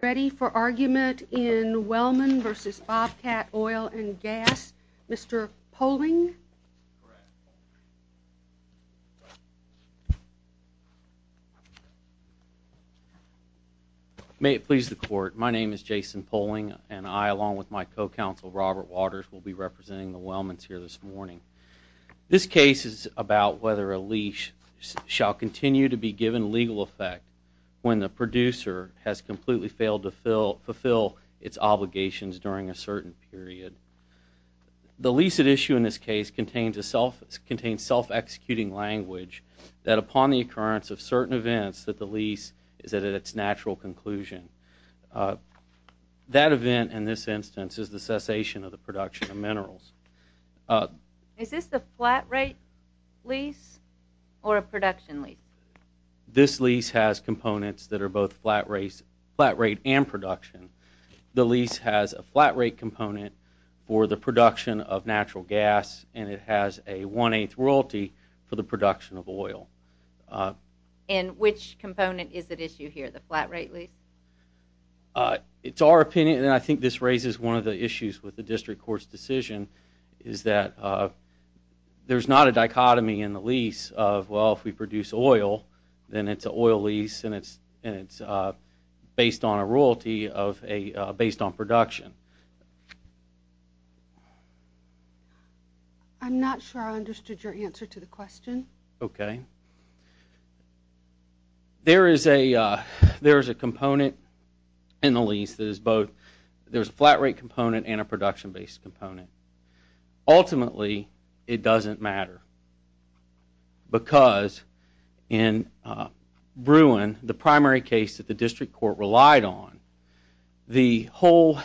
Ready for argument in Wellman v. Bobcat Oil & Gas, Mr. Poling? May it please the court, my name is Jason Poling and I, along with my co-counsel Robert Waters, will be representing the Wellmans here this morning. This case is about whether a lease shall continue to be given legal effect when the producer has completely failed to fulfill its obligations during a certain period. The lease at issue in this case contains self-executing language that upon the occurrence of certain events that the lease is at its natural conclusion. That event in this instance is the cessation of the production of minerals. Is this the flat rate lease or a production lease? This lease has components that are both flat rate and production. The lease has a flat rate component for the production of natural gas and it has a one-eighth royalty for the production of oil. And which component is at issue here, the flat rate lease? It's our opinion, and I think this raises one of the issues with the district court's decision, is that there's not a dichotomy in the lease of, well, if we produce oil, then it's an oil lease and it's based on a royalty based on production. I'm not sure I understood your answer to the question. Okay. There is a component in the lease that is both, there's a flat rate component and a production based component. Ultimately, it doesn't matter because in Bruin, the primary case that the district court relied on, the whole,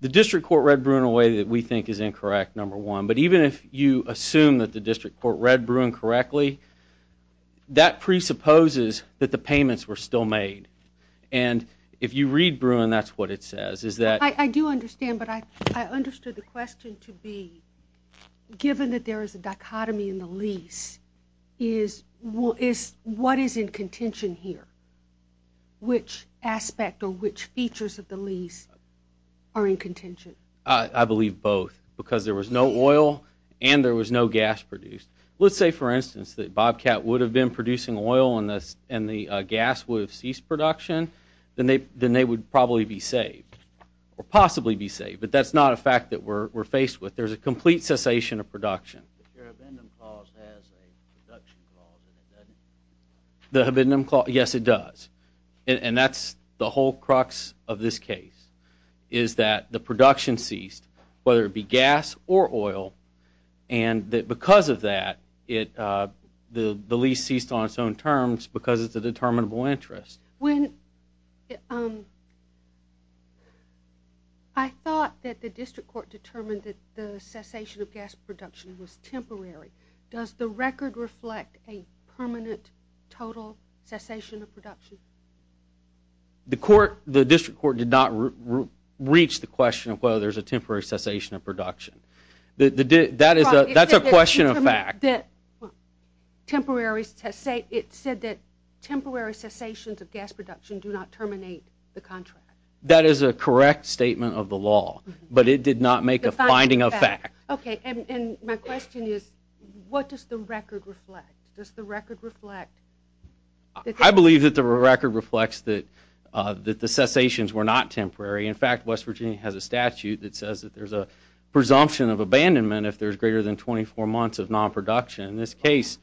the district court read Bruin in a way that we think is incorrect, number one, but even if you assume that the district court read Bruin correctly, that presupposes that the payments were still made. And if you read Bruin, that's what it says. I do understand, but I understood the question to be, given that there is a dichotomy in the lease, what is in contention here, which aspect or which features of the lease are in contention? I believe both because there was no oil and there was no gas produced. Let's say, for instance, that Bobcat would have been producing oil and the gas would have ceased production, then they would probably be saved or possibly be saved. But that's not a fact that we're faced with. There's a complete cessation of production. Your abendum clause has a reduction clause in it, doesn't it? The abendum clause, yes, it does. And that's the whole crux of this case is that the production ceased, whether it be gas or oil, and that because of that, the lease ceased on its own terms because it's a determinable interest. I thought that the district court determined that the cessation of gas production was temporary. Does the record reflect a permanent total cessation of production? The district court did not reach the question of whether there's a temporary cessation of production. That's a question of fact. It said that temporary cessations of gas production do not terminate the contract. That is a correct statement of the law, but it did not make a finding of fact. Okay, and my question is what does the record reflect? Does the record reflect? I believe that the record reflects that the cessations were not temporary. In fact, West Virginia has a statute that says that there's a presumption of abandonment if there's greater than 24 months of non-production. In this case,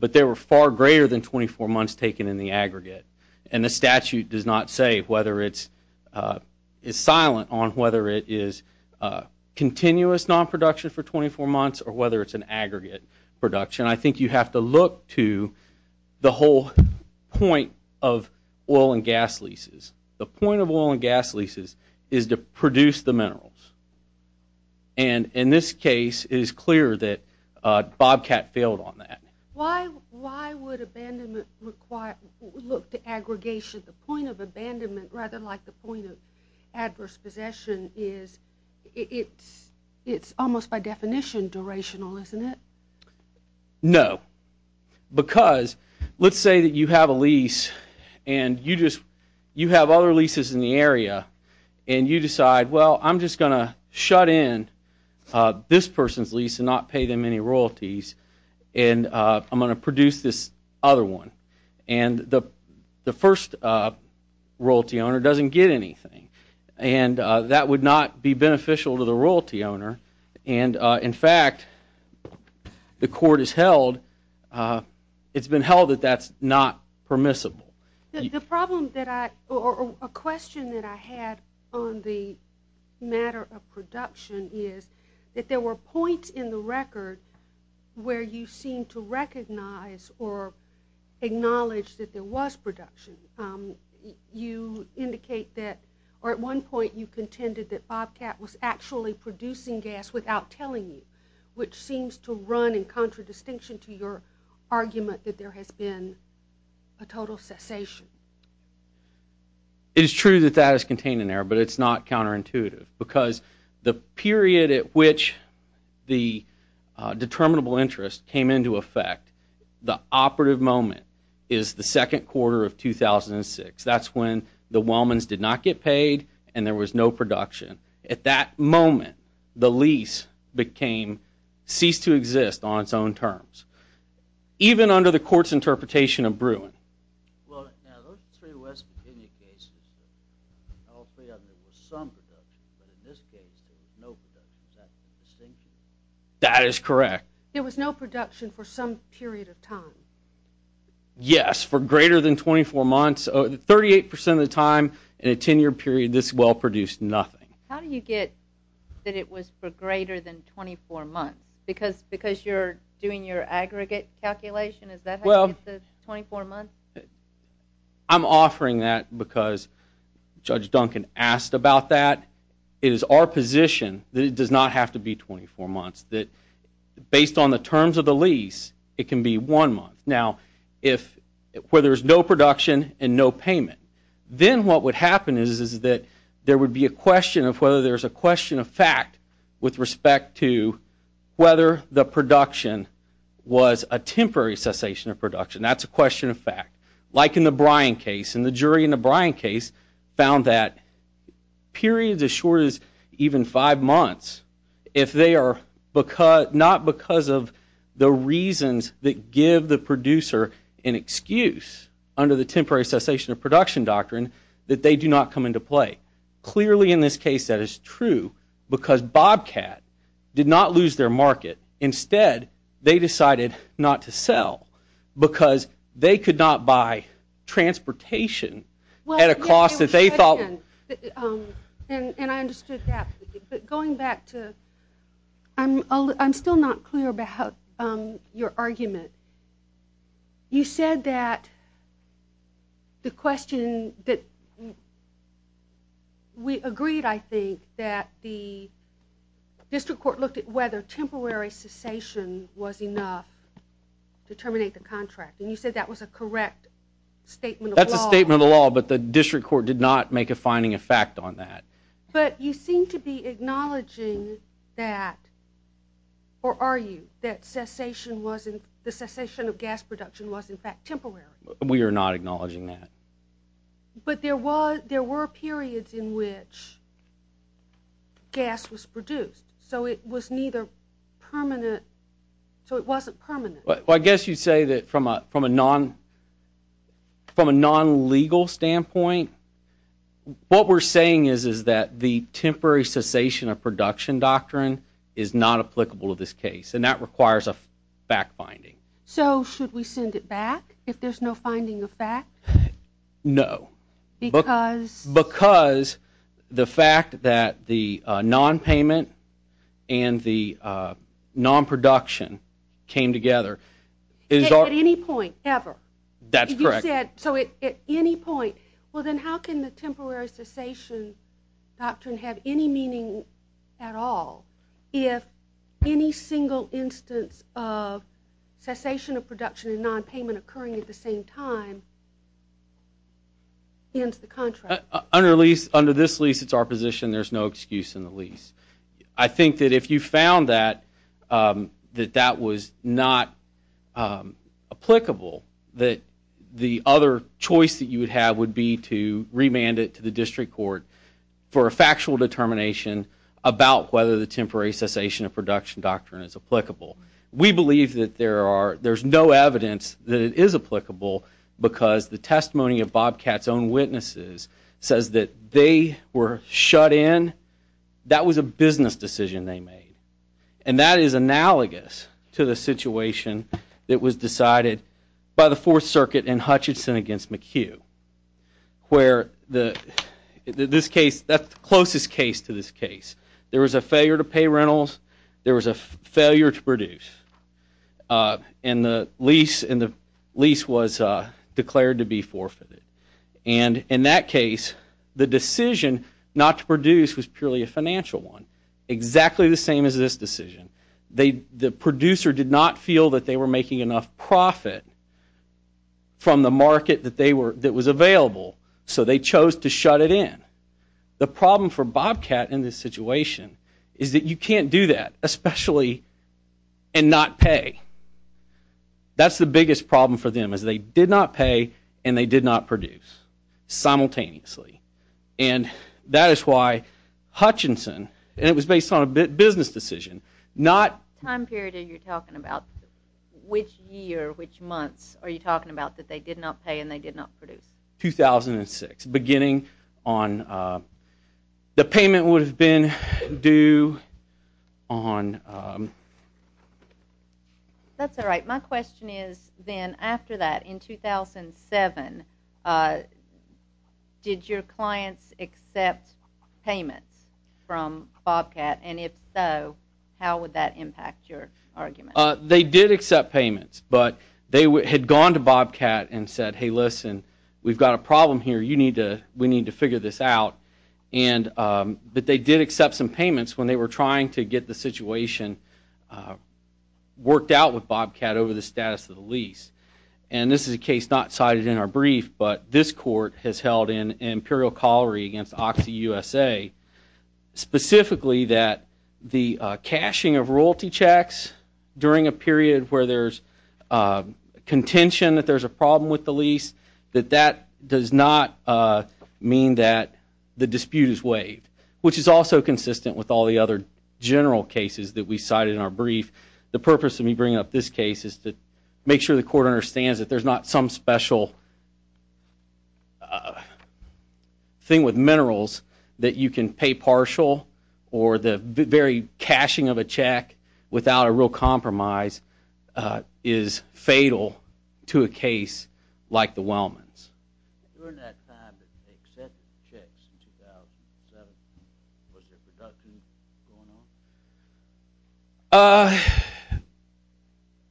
but there were far greater than 24 months taken in the aggregate, and the statute does not say whether it's silent on whether it is continuous non-production for 24 months or whether it's an aggregate production. I think you have to look to the whole point of oil and gas leases. The point of oil and gas leases is to produce the minerals, and in this case, it is clear that Bobcat failed on that. Why would abandonment look to aggregation? The point of abandonment, rather like the point of adverse possession, is it's almost by definition durational, isn't it? No, because let's say that you have a lease and you have other leases in the area, and you decide, well, I'm just going to shut in this person's lease and not pay them any royalties, and I'm going to produce this other one, and the first royalty owner doesn't get anything, and that would not be beneficial to the royalty owner. And, in fact, the court has held that that's not permissible. The problem that I or a question that I had on the matter of production is that there were points in the record where you seemed to recognize or acknowledge that there was production. You indicate that or at one point you contended that Bobcat was actually producing gas without telling you, which seems to run in contradistinction to your argument that there has been a total cessation. It is true that that is contained in there, but it's not counterintuitive because the period at which the determinable interest came into effect, the operative moment is the second quarter of 2006. That's when the Wellmans did not get paid and there was no production. At that moment, the lease ceased to exist on its own terms, even under the court's interpretation of Bruin. Well, now, those three West Virginia cases, all three of them, there was some production, but in this case there was no production. Is that the distinction? That is correct. There was no production for some period of time? Yes, for greater than 24 months, 38% of the time in a 10-year period, this well produced nothing. How do you get that it was for greater than 24 months? Because you're doing your aggregate calculation? Is that how you get the 24 months? I'm offering that because Judge Duncan asked about that. It is our position that it does not have to be 24 months, that based on the terms of the lease, it can be one month. Now, where there's no production and no payment, then what would happen is that there would be a question of whether there's a question of fact with respect to whether the production was a temporary cessation of production. That's a question of fact. Like in the Bruin case, and the jury in the Bruin case found that periods as short as even five months, if they are not because of the reasons that give the producer an excuse under the temporary cessation of production doctrine, that they do not come into play. Clearly, in this case, that is true because Bobcat did not lose their market. Instead, they decided not to sell because they could not buy transportation at a cost that they thought. And I understood that. But going back to, I'm still not clear about your argument. You said that the question that we agreed, I think, that the district court looked at whether temporary cessation was enough to terminate the contract. And you said that was a correct statement of law. That's a statement of law, but the district court did not make a finding of fact on that. But you seem to be acknowledging that, or are you, that the cessation of gas production was, in fact, temporary? We are not acknowledging that. But there were periods in which gas was produced. So it was neither permanent, so it wasn't permanent. Well, I guess you'd say that from a non-legal standpoint, what we're saying is that the temporary cessation of production doctrine is not applicable to this case, and that requires a fact-finding. So should we send it back if there's no finding of fact? No. Because? Because the fact that the non-payment and the non-production came together is our... At any point, ever. That's correct. You said, so at any point. Well, then how can the temporary cessation doctrine have any meaning at all if any single instance of cessation of production and non-payment occurring at the same time ends the contract? Under this lease, it's our position there's no excuse in the lease. I think that if you found that, that that was not applicable, that the other choice that you would have would be to remand it to the district court for a factual determination about whether the temporary cessation of production doctrine is applicable. We believe that there's no evidence that it is applicable because the testimony of Bobcat's own witnesses says that they were shut in. That was a business decision they made, and that is analogous to the situation that was decided by the Fourth Circuit in Hutchinson against McHugh, where this case, that's the closest case to this case. There was a failure to pay rentals. There was a failure to produce, and the lease was declared to be forfeited. And in that case, the decision not to produce was purely a financial one, exactly the same as this decision. The producer did not feel that they were making enough profit from the market that was available, so they chose to shut it in. The problem for Bobcat in this situation is that you can't do that, especially and not pay. That's the biggest problem for them is they did not pay and they did not produce simultaneously. And that is why Hutchinson, and it was based on a business decision, not... How many months are you talking about that they did not pay and they did not produce? 2006, beginning on... The payment would have been due on... That's all right. My question is then after that, in 2007, did your clients accept payments from Bobcat? And if so, how would that impact your argument? They did accept payments, but they had gone to Bobcat and said, hey, listen, we've got a problem here. We need to figure this out. But they did accept some payments when they were trying to get the situation worked out with Bobcat over the status of the lease. And this is a case not cited in our brief, but this court has held an imperial callery against OxyUSA, specifically that the cashing of royalty checks during a period where there's contention that there's a problem with the lease, that that does not mean that the dispute is waived, which is also consistent with all the other general cases that we cited in our brief. The purpose of me bringing up this case is to make sure the court understands that there's not some special thing with minerals that you can pay partial or the very cashing of a check without a real compromise is fatal to a case like the Wellmans. During that time that they accepted checks in 2007, was there production going on?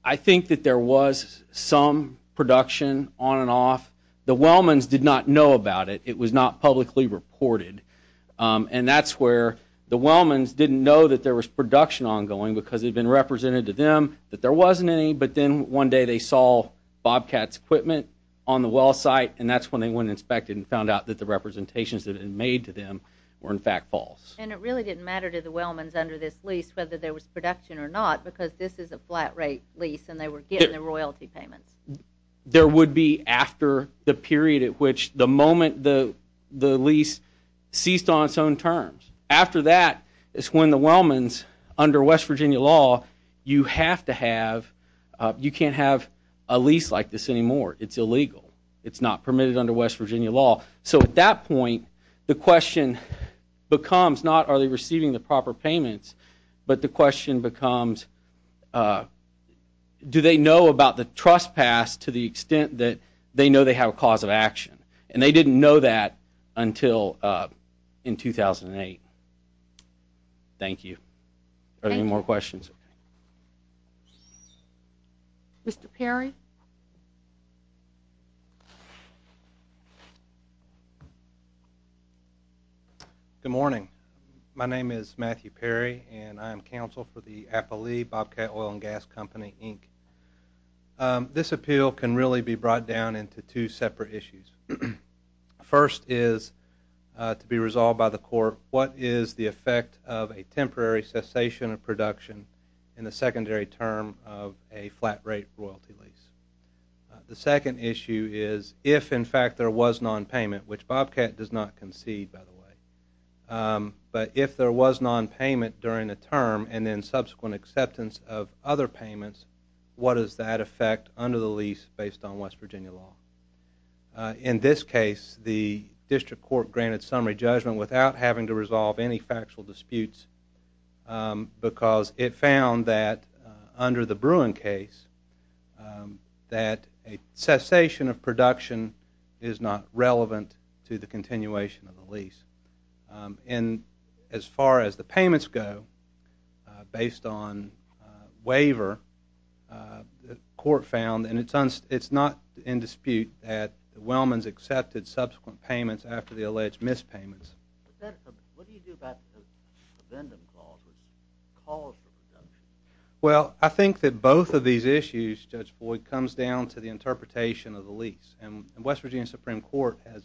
I think that there was some production on and off. The Wellmans did not know about it. It was not publicly reported. And that's where the Wellmans didn't know that there was production ongoing because it had been represented to them that there wasn't any, but then one day they saw Bobcat's equipment on the well site, and that's when they went and inspected and found out that the representations that had been made to them were in fact false. And it really didn't matter to the Wellmans under this lease whether there was production or not because this is a flat rate lease and they were getting the royalty payments. There would be after the period at which the moment the lease ceased on its own terms. After that is when the Wellmans, under West Virginia law, you can't have a lease like this anymore. It's illegal. It's not permitted under West Virginia law. So at that point, the question becomes not are they receiving the proper payments, but the question becomes do they know about the trespass to the extent that they know they have a cause of action. And they didn't know that until in 2008. Thank you. Are there any more questions? No questions. Mr. Perry? Good morning. My name is Matthew Perry, and I am counsel for the Appali Bobcat Oil and Gas Company, Inc. This appeal can really be brought down into two separate issues. First is to be resolved by the court, what is the effect of a temporary cessation of production in the secondary term of a flat rate royalty lease? The second issue is if, in fact, there was nonpayment, which Bobcat does not concede, by the way, but if there was nonpayment during the term and then subsequent acceptance of other payments, what is that effect under the lease based on West Virginia law? In this case, the district court granted summary judgment without having to resolve any factual disputes because it found that under the Bruin case that a cessation of production is not relevant to the continuation of the lease. And as far as the payments go, based on waiver, the court found, and it's not in dispute that Wellmans accepted subsequent payments after the alleged mispayments. What do you do about the subvention clause, which calls for production? Well, I think that both of these issues, Judge Boyd, comes down to the interpretation of the lease. And West Virginia Supreme Court has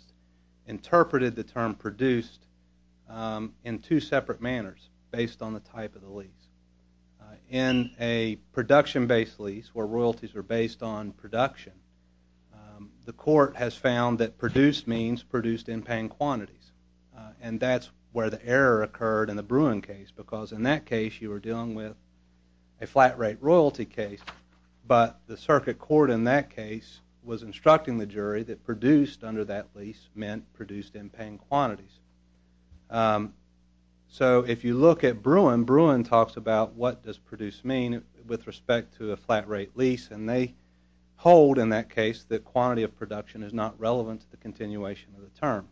interpreted the term produced in two separate manners based on the type of the lease. In a production-based lease where royalties are based on production, the court has found that produced means produced in paying quantities, and that's where the error occurred in the Bruin case because in that case you were dealing with a flat rate royalty case, but the circuit court in that case was instructing the jury that produced under that lease meant produced in paying quantities. So if you look at Bruin, Bruin talks about what does produced mean with respect to a flat rate lease, and they hold in that case that quantity of production is not relevant to the continuation of the term.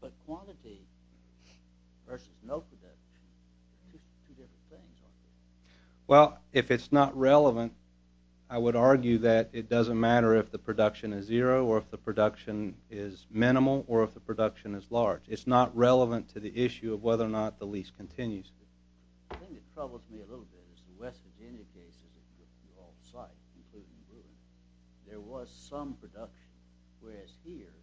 But quantity versus no production, there's two different things, aren't there? Well, if it's not relevant, I would argue that it doesn't matter if the production is zero or if the production is minimal or if the production is large. It's not relevant to the issue of whether or not the lease continues. The thing that troubles me a little bit is the West Virginia case, as it was with all the sites, including Bruin, there was some production, whereas here,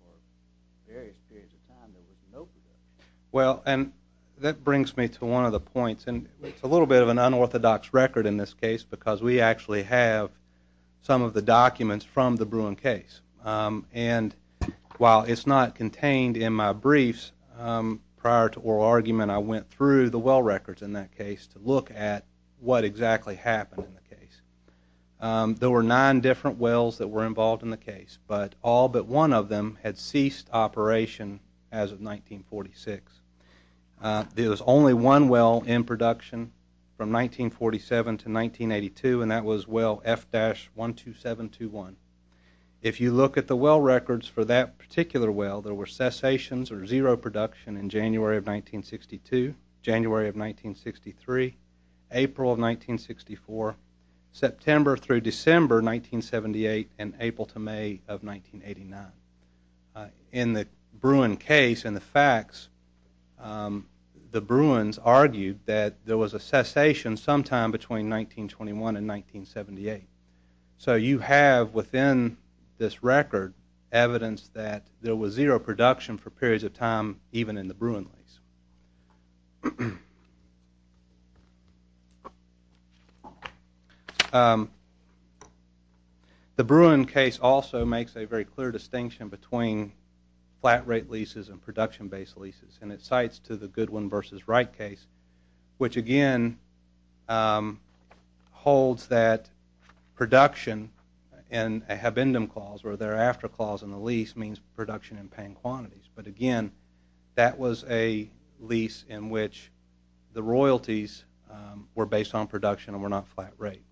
for various periods of time, there was no production. Well, and that brings me to one of the points, and it's a little bit of an unorthodox record in this case because we actually have some of the documents from the Bruin case. And while it's not contained in my briefs, prior to oral argument, I went through the well records in that case to look at what exactly happened in the case. There were nine different wells that were involved in the case, but all but one of them had ceased operation as of 1946. There was only one well in production from 1947 to 1982, and that was well F-12721. If you look at the well records for that particular well, there were cessations or zero production in January of 1962, January of 1963, April of 1964, September through December 1978, and April to May of 1989. In the Bruin case, in the facts, the Bruins argued that there was a cessation sometime between 1921 and 1978. So you have within this record evidence that there was zero production for periods of time even in the Bruin lease. The Bruin case also makes a very clear distinction between flat rate leases and production-based leases, and it cites to the Goodwin v. Wright case, which again holds that production and a habendum clause or thereafter clause in the lease means production in paying quantities. But again, that was a lease in which the royalties were based on production and were not flat rate.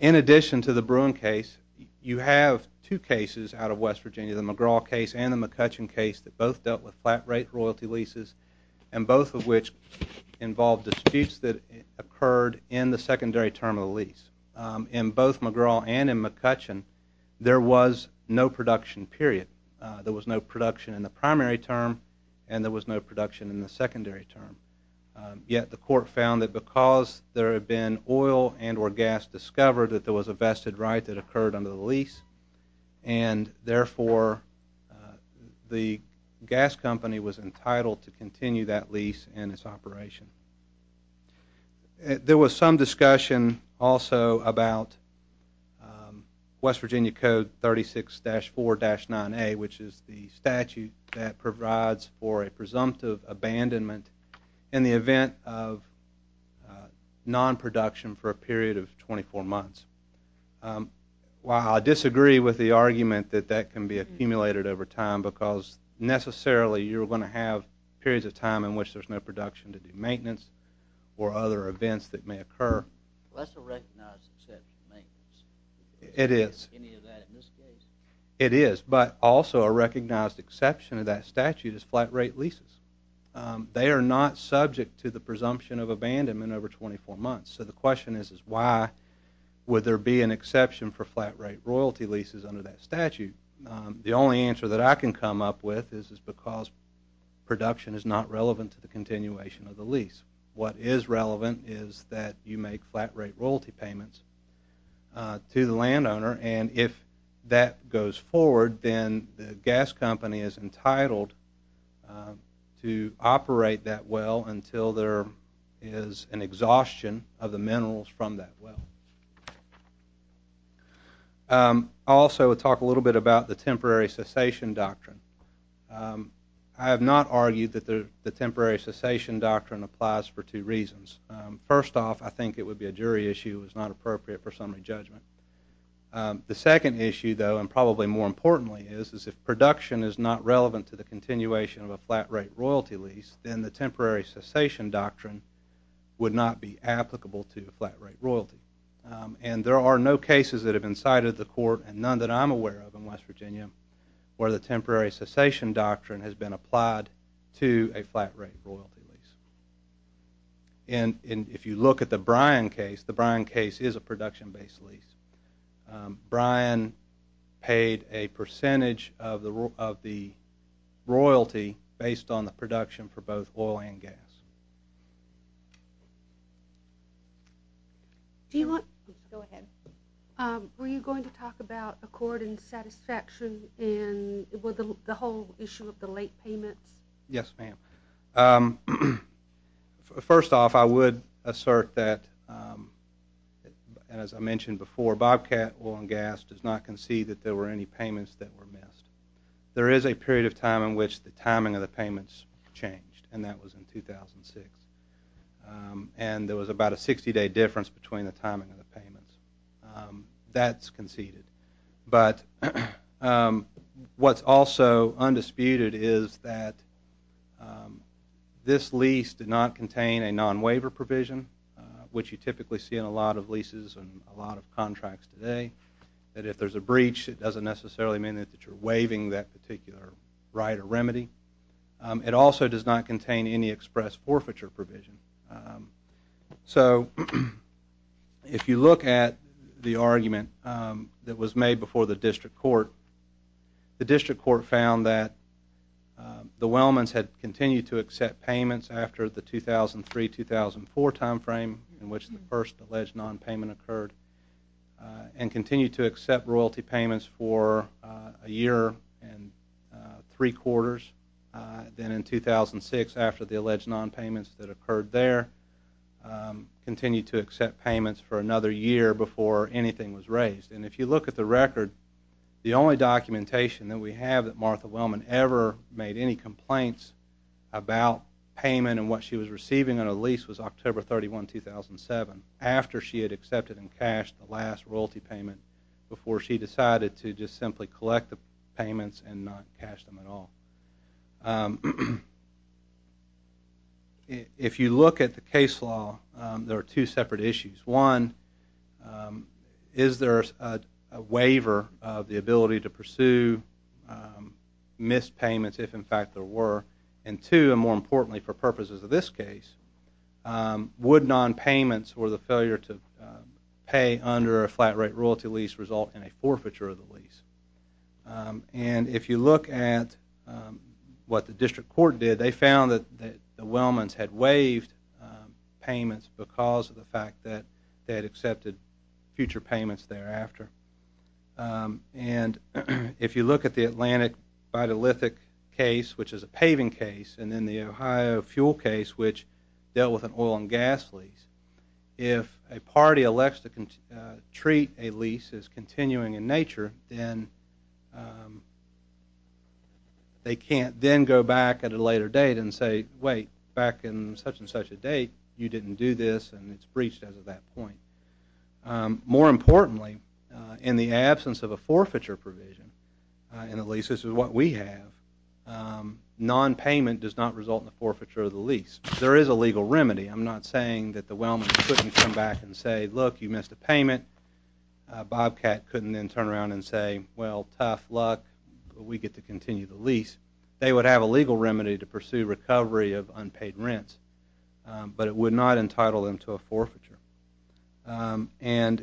In addition to the Bruin case, you have two cases out of West Virginia, the McGraw case and the McCutcheon case that both dealt with flat rate royalty leases, and both of which involved disputes that occurred in the secondary term of the lease. In both McGraw and in McCutcheon, there was no production period. There was no production in the primary term, and there was no production in the secondary term. Yet the court found that because there had been oil and or gas discovered, that there was a vested right that occurred under the lease, and therefore the gas company was entitled to continue that lease and its operation. There was some discussion also about West Virginia Code 36-4-9A, which is the statute that provides for a presumptive abandonment in the event of non-production for a period of 24 months. I disagree with the argument that that can be accumulated over time, because necessarily you're going to have periods of time in which there's no production to do maintenance or other events that may occur. That's a recognized set of maintenance. It is. Any of that in this case? It is, but also a recognized exception of that statute is flat-rate leases. They are not subject to the presumption of abandonment over 24 months. So the question is why would there be an exception for flat-rate royalty leases under that statute? The only answer that I can come up with is because production is not relevant to the continuation of the lease. What is relevant is that you make flat-rate royalty payments to the landowner, and if that goes forward, then the gas company is entitled to operate that well until there is an exhaustion of the minerals from that well. I'll also talk a little bit about the temporary cessation doctrine. I have not argued that the temporary cessation doctrine applies for two reasons. First off, I think it would be a jury issue. It's not appropriate for summary judgment. The second issue, though, and probably more importantly is if production is not relevant to the continuation of a flat-rate royalty lease, then the temporary cessation doctrine would not be applicable to flat-rate royalty. And there are no cases that have been cited at the court, and none that I'm aware of in West Virginia, where the temporary cessation doctrine has been applied to a flat-rate royalty lease. And if you look at the Bryan case, the Bryan case is a production-based lease. Bryan paid a percentage of the royalty based on the production for both oil and gas. Go ahead. Were you going to talk about accord and satisfaction and the whole issue of the late payments? Yes, ma'am. First off, I would assert that, as I mentioned before, Bobcat Oil and Gas does not concede that there were any payments that were missed. There is a period of time in which the timing of the payments changed, and that was in 2006. And there was about a 60-day difference between the timing of the payments. That's conceded. But what's also undisputed is that this lease did not contain a non-waiver provision, which you typically see in a lot of leases and a lot of contracts today, that if there's a breach, it doesn't necessarily mean that you're waiving that particular right or remedy. It also does not contain any express forfeiture provision. So if you look at the argument that was made before the district court, the district court found that the Wellmans had continued to accept payments after the 2003-2004 time frame in which the first alleged non-payment occurred and continued to accept royalty payments for a year and three quarters. Then in 2006, after the alleged non-payments that occurred there, continued to accept payments for another year before anything was raised. And if you look at the record, the only documentation that we have that Martha Wellman ever made any complaints about payment and what she was receiving on a lease was October 31, 2007, after she had accepted and cashed the last royalty payment before she decided to just simply collect the payments and not cash them at all. If you look at the case law, there are two separate issues. One, is there a waiver of the ability to pursue missed payments if, in fact, there were? And two, and more importantly for purposes of this case, would non-payments or the failure to pay under a flat rate royalty lease result in a forfeiture of the lease? And if you look at what the district court did, they found that the Wellmans had waived payments because of the fact that they had accepted future payments thereafter. And if you look at the Atlantic Vitalithic case, which is a paving case, and then the Ohio fuel case, which dealt with an oil and gas lease, if a party elects to treat a lease as continuing in nature, then they can't then go back at a later date and say, wait, back in such and such a date, you didn't do this and it's breached as of that point. More importantly, in the absence of a forfeiture provision, and at least this is what we have, non-payment does not result in a forfeiture of the lease. There is a legal remedy. I'm not saying that the Wellmans couldn't come back and say, look, you missed a payment. Bobcat couldn't then turn around and say, well, tough luck, but we get to continue the lease. They would have a legal remedy to pursue recovery of unpaid rents, but it would not entitle them to a forfeiture. And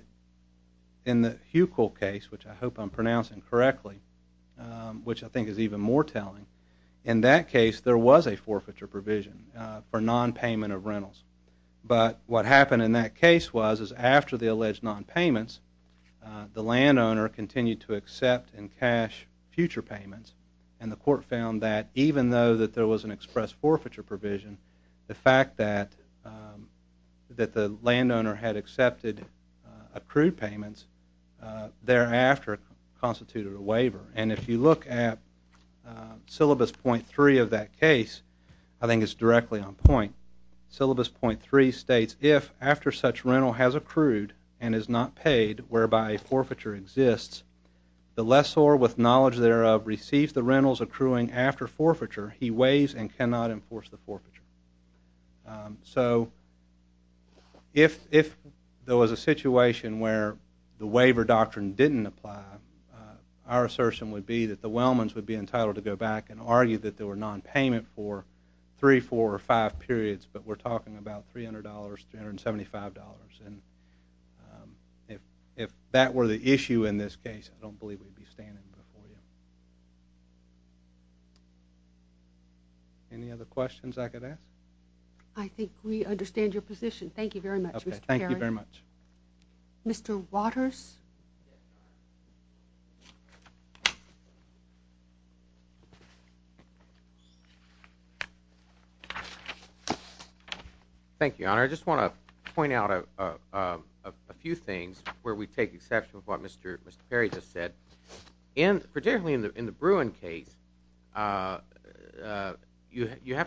in the Huckel case, which I hope I'm pronouncing correctly, which I think is even more telling, in that case there was a forfeiture provision for non-payment of rentals. But what happened in that case was, is after the alleged non-payments, the landowner continued to accept and cash future payments, and the court found that even though that there was an express forfeiture provision, the fact that the landowner had accepted accrued payments thereafter constituted a waiver. And if you look at syllabus .3 of that case, I think it's directly on point. Syllabus .3 states, if after such rental has accrued and is not paid, whereby a forfeiture exists, the lessor with knowledge thereof receives the rentals accruing after forfeiture, he weighs and cannot enforce the forfeiture. So if there was a situation where the waiver doctrine didn't apply, our assertion would be that the Wellmans would be entitled to go back and argue that there were non-payment for three, four, or five periods, but we're talking about $300, $375. And if that were the issue in this case, I don't believe we'd be standing before you. Any other questions I could ask? I think we understand your position. Thank you very much, Mr. Perry. Thank you very much. Mr. Waters? Thank you, Your Honor. I just want to point out a few things where we take exception of what Mr. Perry just said. Particularly in the Bruin case, you have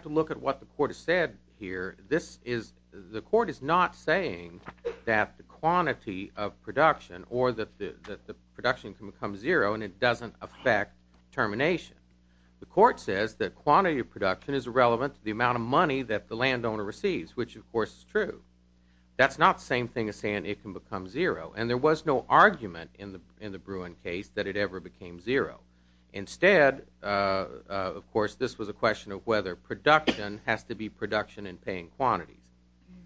to look at what the court has said here. The court is not saying that the quantity of production or that the production can become zero and it doesn't affect termination. The court says that quantity of production is irrelevant to the amount of money that the landowner receives, which, of course, is true. That's not the same thing as saying it can become zero, and there was no argument in the Bruin case that it ever became zero. Instead, of course, this was a question of whether production has to be production in paying quantities.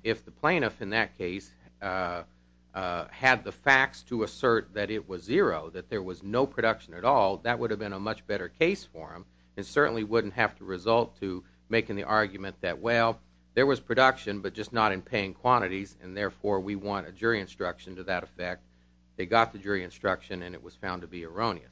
If the plaintiff in that case had the facts to assert that it was zero, that there was no production at all, that would have been a much better case for him and certainly wouldn't have to result to making the argument that, well, there was production, but just not in paying quantities, and therefore we want a jury instruction to that effect. They got the jury instruction, and it was found to be erroneous.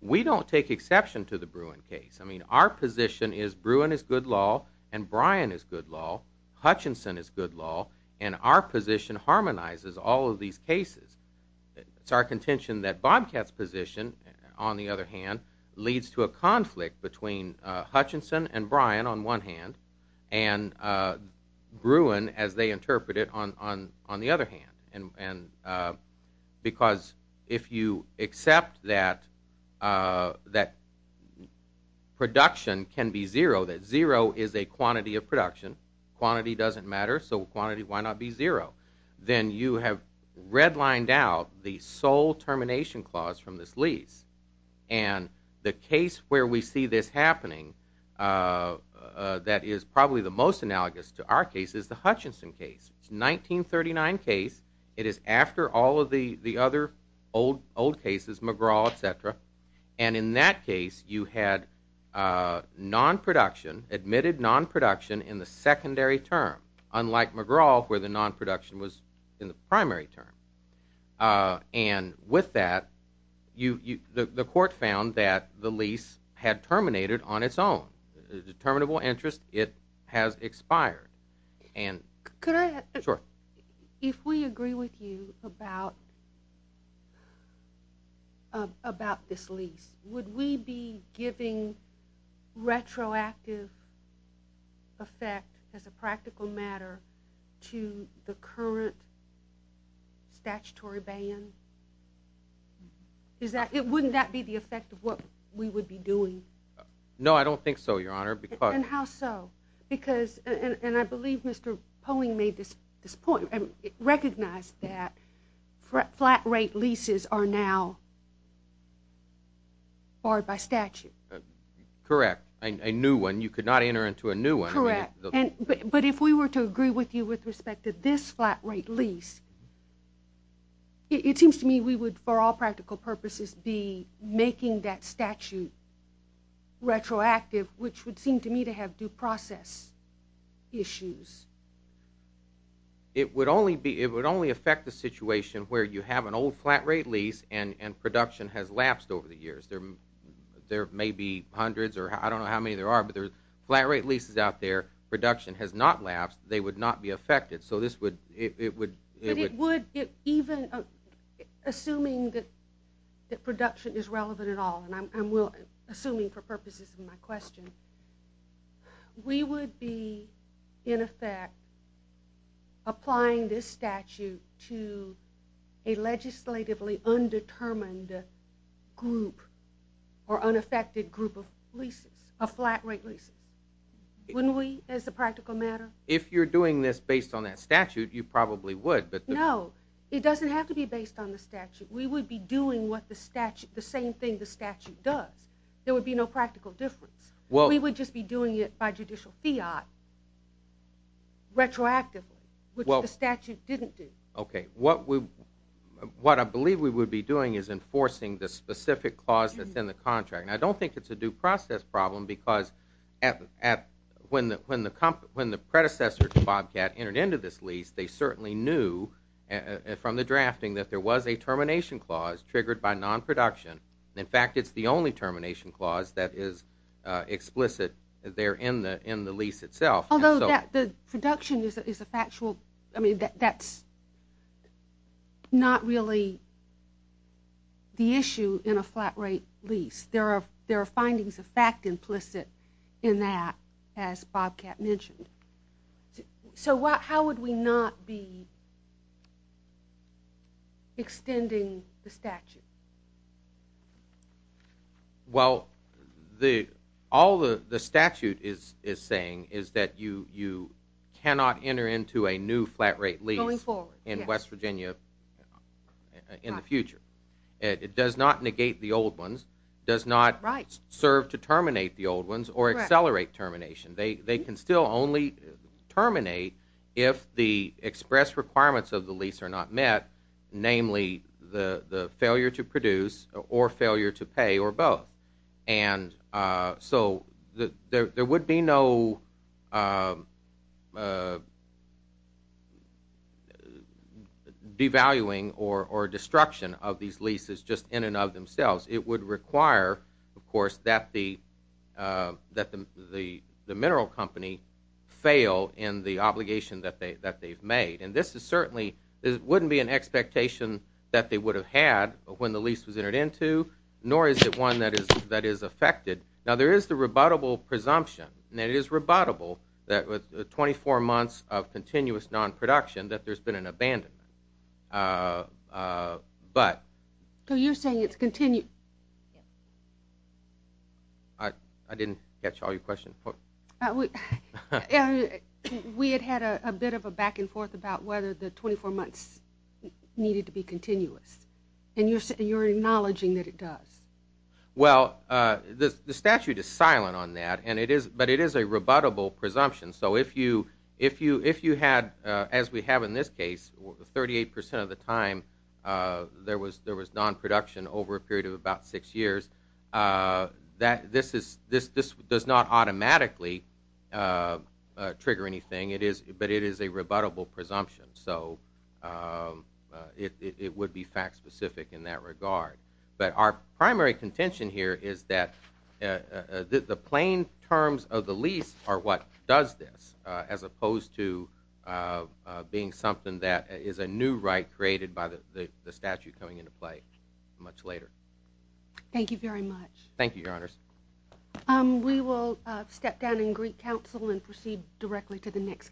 We don't take exception to the Bruin case. Our position is Bruin is good law and Bryan is good law, Hutchinson is good law, and our position harmonizes all of these cases. It's our contention that Bobcat's position, on the other hand, leads to a conflict between Hutchinson and Bryan on one hand and Bruin, as they interpret it, on the other hand, because if you accept that production can be zero, that zero is a quantity of production, quantity doesn't matter, so quantity, why not be zero? Then you have redlined out the sole termination clause from this lease, and the case where we see this happening that is probably the most analogous to our case is the Hutchinson case. It's a 1939 case. It is after all of the other old cases, McGraw, et cetera, and in that case you had non-production, admitted non-production in the secondary term, unlike McGraw, where the non-production was in the primary term. And with that, the court found that the lease had terminated on its own. Determinable interest, it has expired. Could I ask, if we agree with you about this lease, would we be giving retroactive effect as a practical matter to the current statutory ban? Wouldn't that be the effect of what we would be doing? No, I don't think so, Your Honor. And how so? Because, and I believe Mr. Poling made this point, recognized that flat rate leases are now barred by statute. Correct. A new one, you could not enter into a new one. Correct. But if we were to agree with you with respect to this flat rate lease, it seems to me we would, for all practical purposes, be making that statute retroactive, which would seem to me to have due process issues. It would only affect the situation where you have an old flat rate lease and production has lapsed over the years. There may be hundreds, or I don't know how many there are, but there are flat rate leases out there, production has not lapsed, they would not be affected. But it would, even assuming that production is relevant at all, and I'm assuming for purposes of my question, we would be, in effect, applying this statute to a legislatively undetermined group or unaffected group of leases, of flat rate leases. Wouldn't we, as a practical matter? If you're doing this based on that statute, you probably would. No, it doesn't have to be based on the statute. We would be doing the same thing the statute does. There would be no practical difference. We would just be doing it by judicial fiat, retroactively, which the statute didn't do. What I believe we would be doing is enforcing the specific clause that's in the contract. I don't think it's a due process problem because when the predecessor to Bobcat entered into this lease, they certainly knew from the drafting that there was a termination clause triggered by non-production. In fact, it's the only termination clause that is explicit there in the lease itself. Although the production is a factual, I mean, that's not really the issue in a flat rate lease. There are findings of fact implicit in that, as Bobcat mentioned. So how would we not be extending the statute? Well, all the statute is saying is that you cannot enter into a new flat rate lease in West Virginia in the future. It does not negate the old ones, does not serve to terminate the old ones or accelerate termination. They can still only terminate if the express requirements of the lease are not met, namely the failure to produce or failure to pay or both. And so there would be no devaluing or destruction of these leases just in and of themselves. It would require, of course, that the mineral company fail in the obligation that they've made. And this certainly wouldn't be an expectation that they would have had when the lease was entered into, nor is it one that is affected. Now, there is the rebuttable presumption, and it is rebuttable that with 24 months of continuous non-production that there's been an abandonment. But... So you're saying it's continued? I didn't catch all your question. We had had a bit of a back and forth about whether the 24 months needed to be continuous, and you're acknowledging that it does. Well, the statute is silent on that, but it is a rebuttable presumption. So if you had, as we have in this case, 38% of the time there was non-production over a period of about six years, this does not automatically trigger anything, but it is a rebuttable presumption. So it would be fact-specific in that regard. But our primary contention here is that the plain terms of the lease are what does this, as opposed to being something that is a new right created by the statute coming into play much later. Thank you very much. Thank you, Your Honors. We will step down in Greek Council and proceed directly to the next case.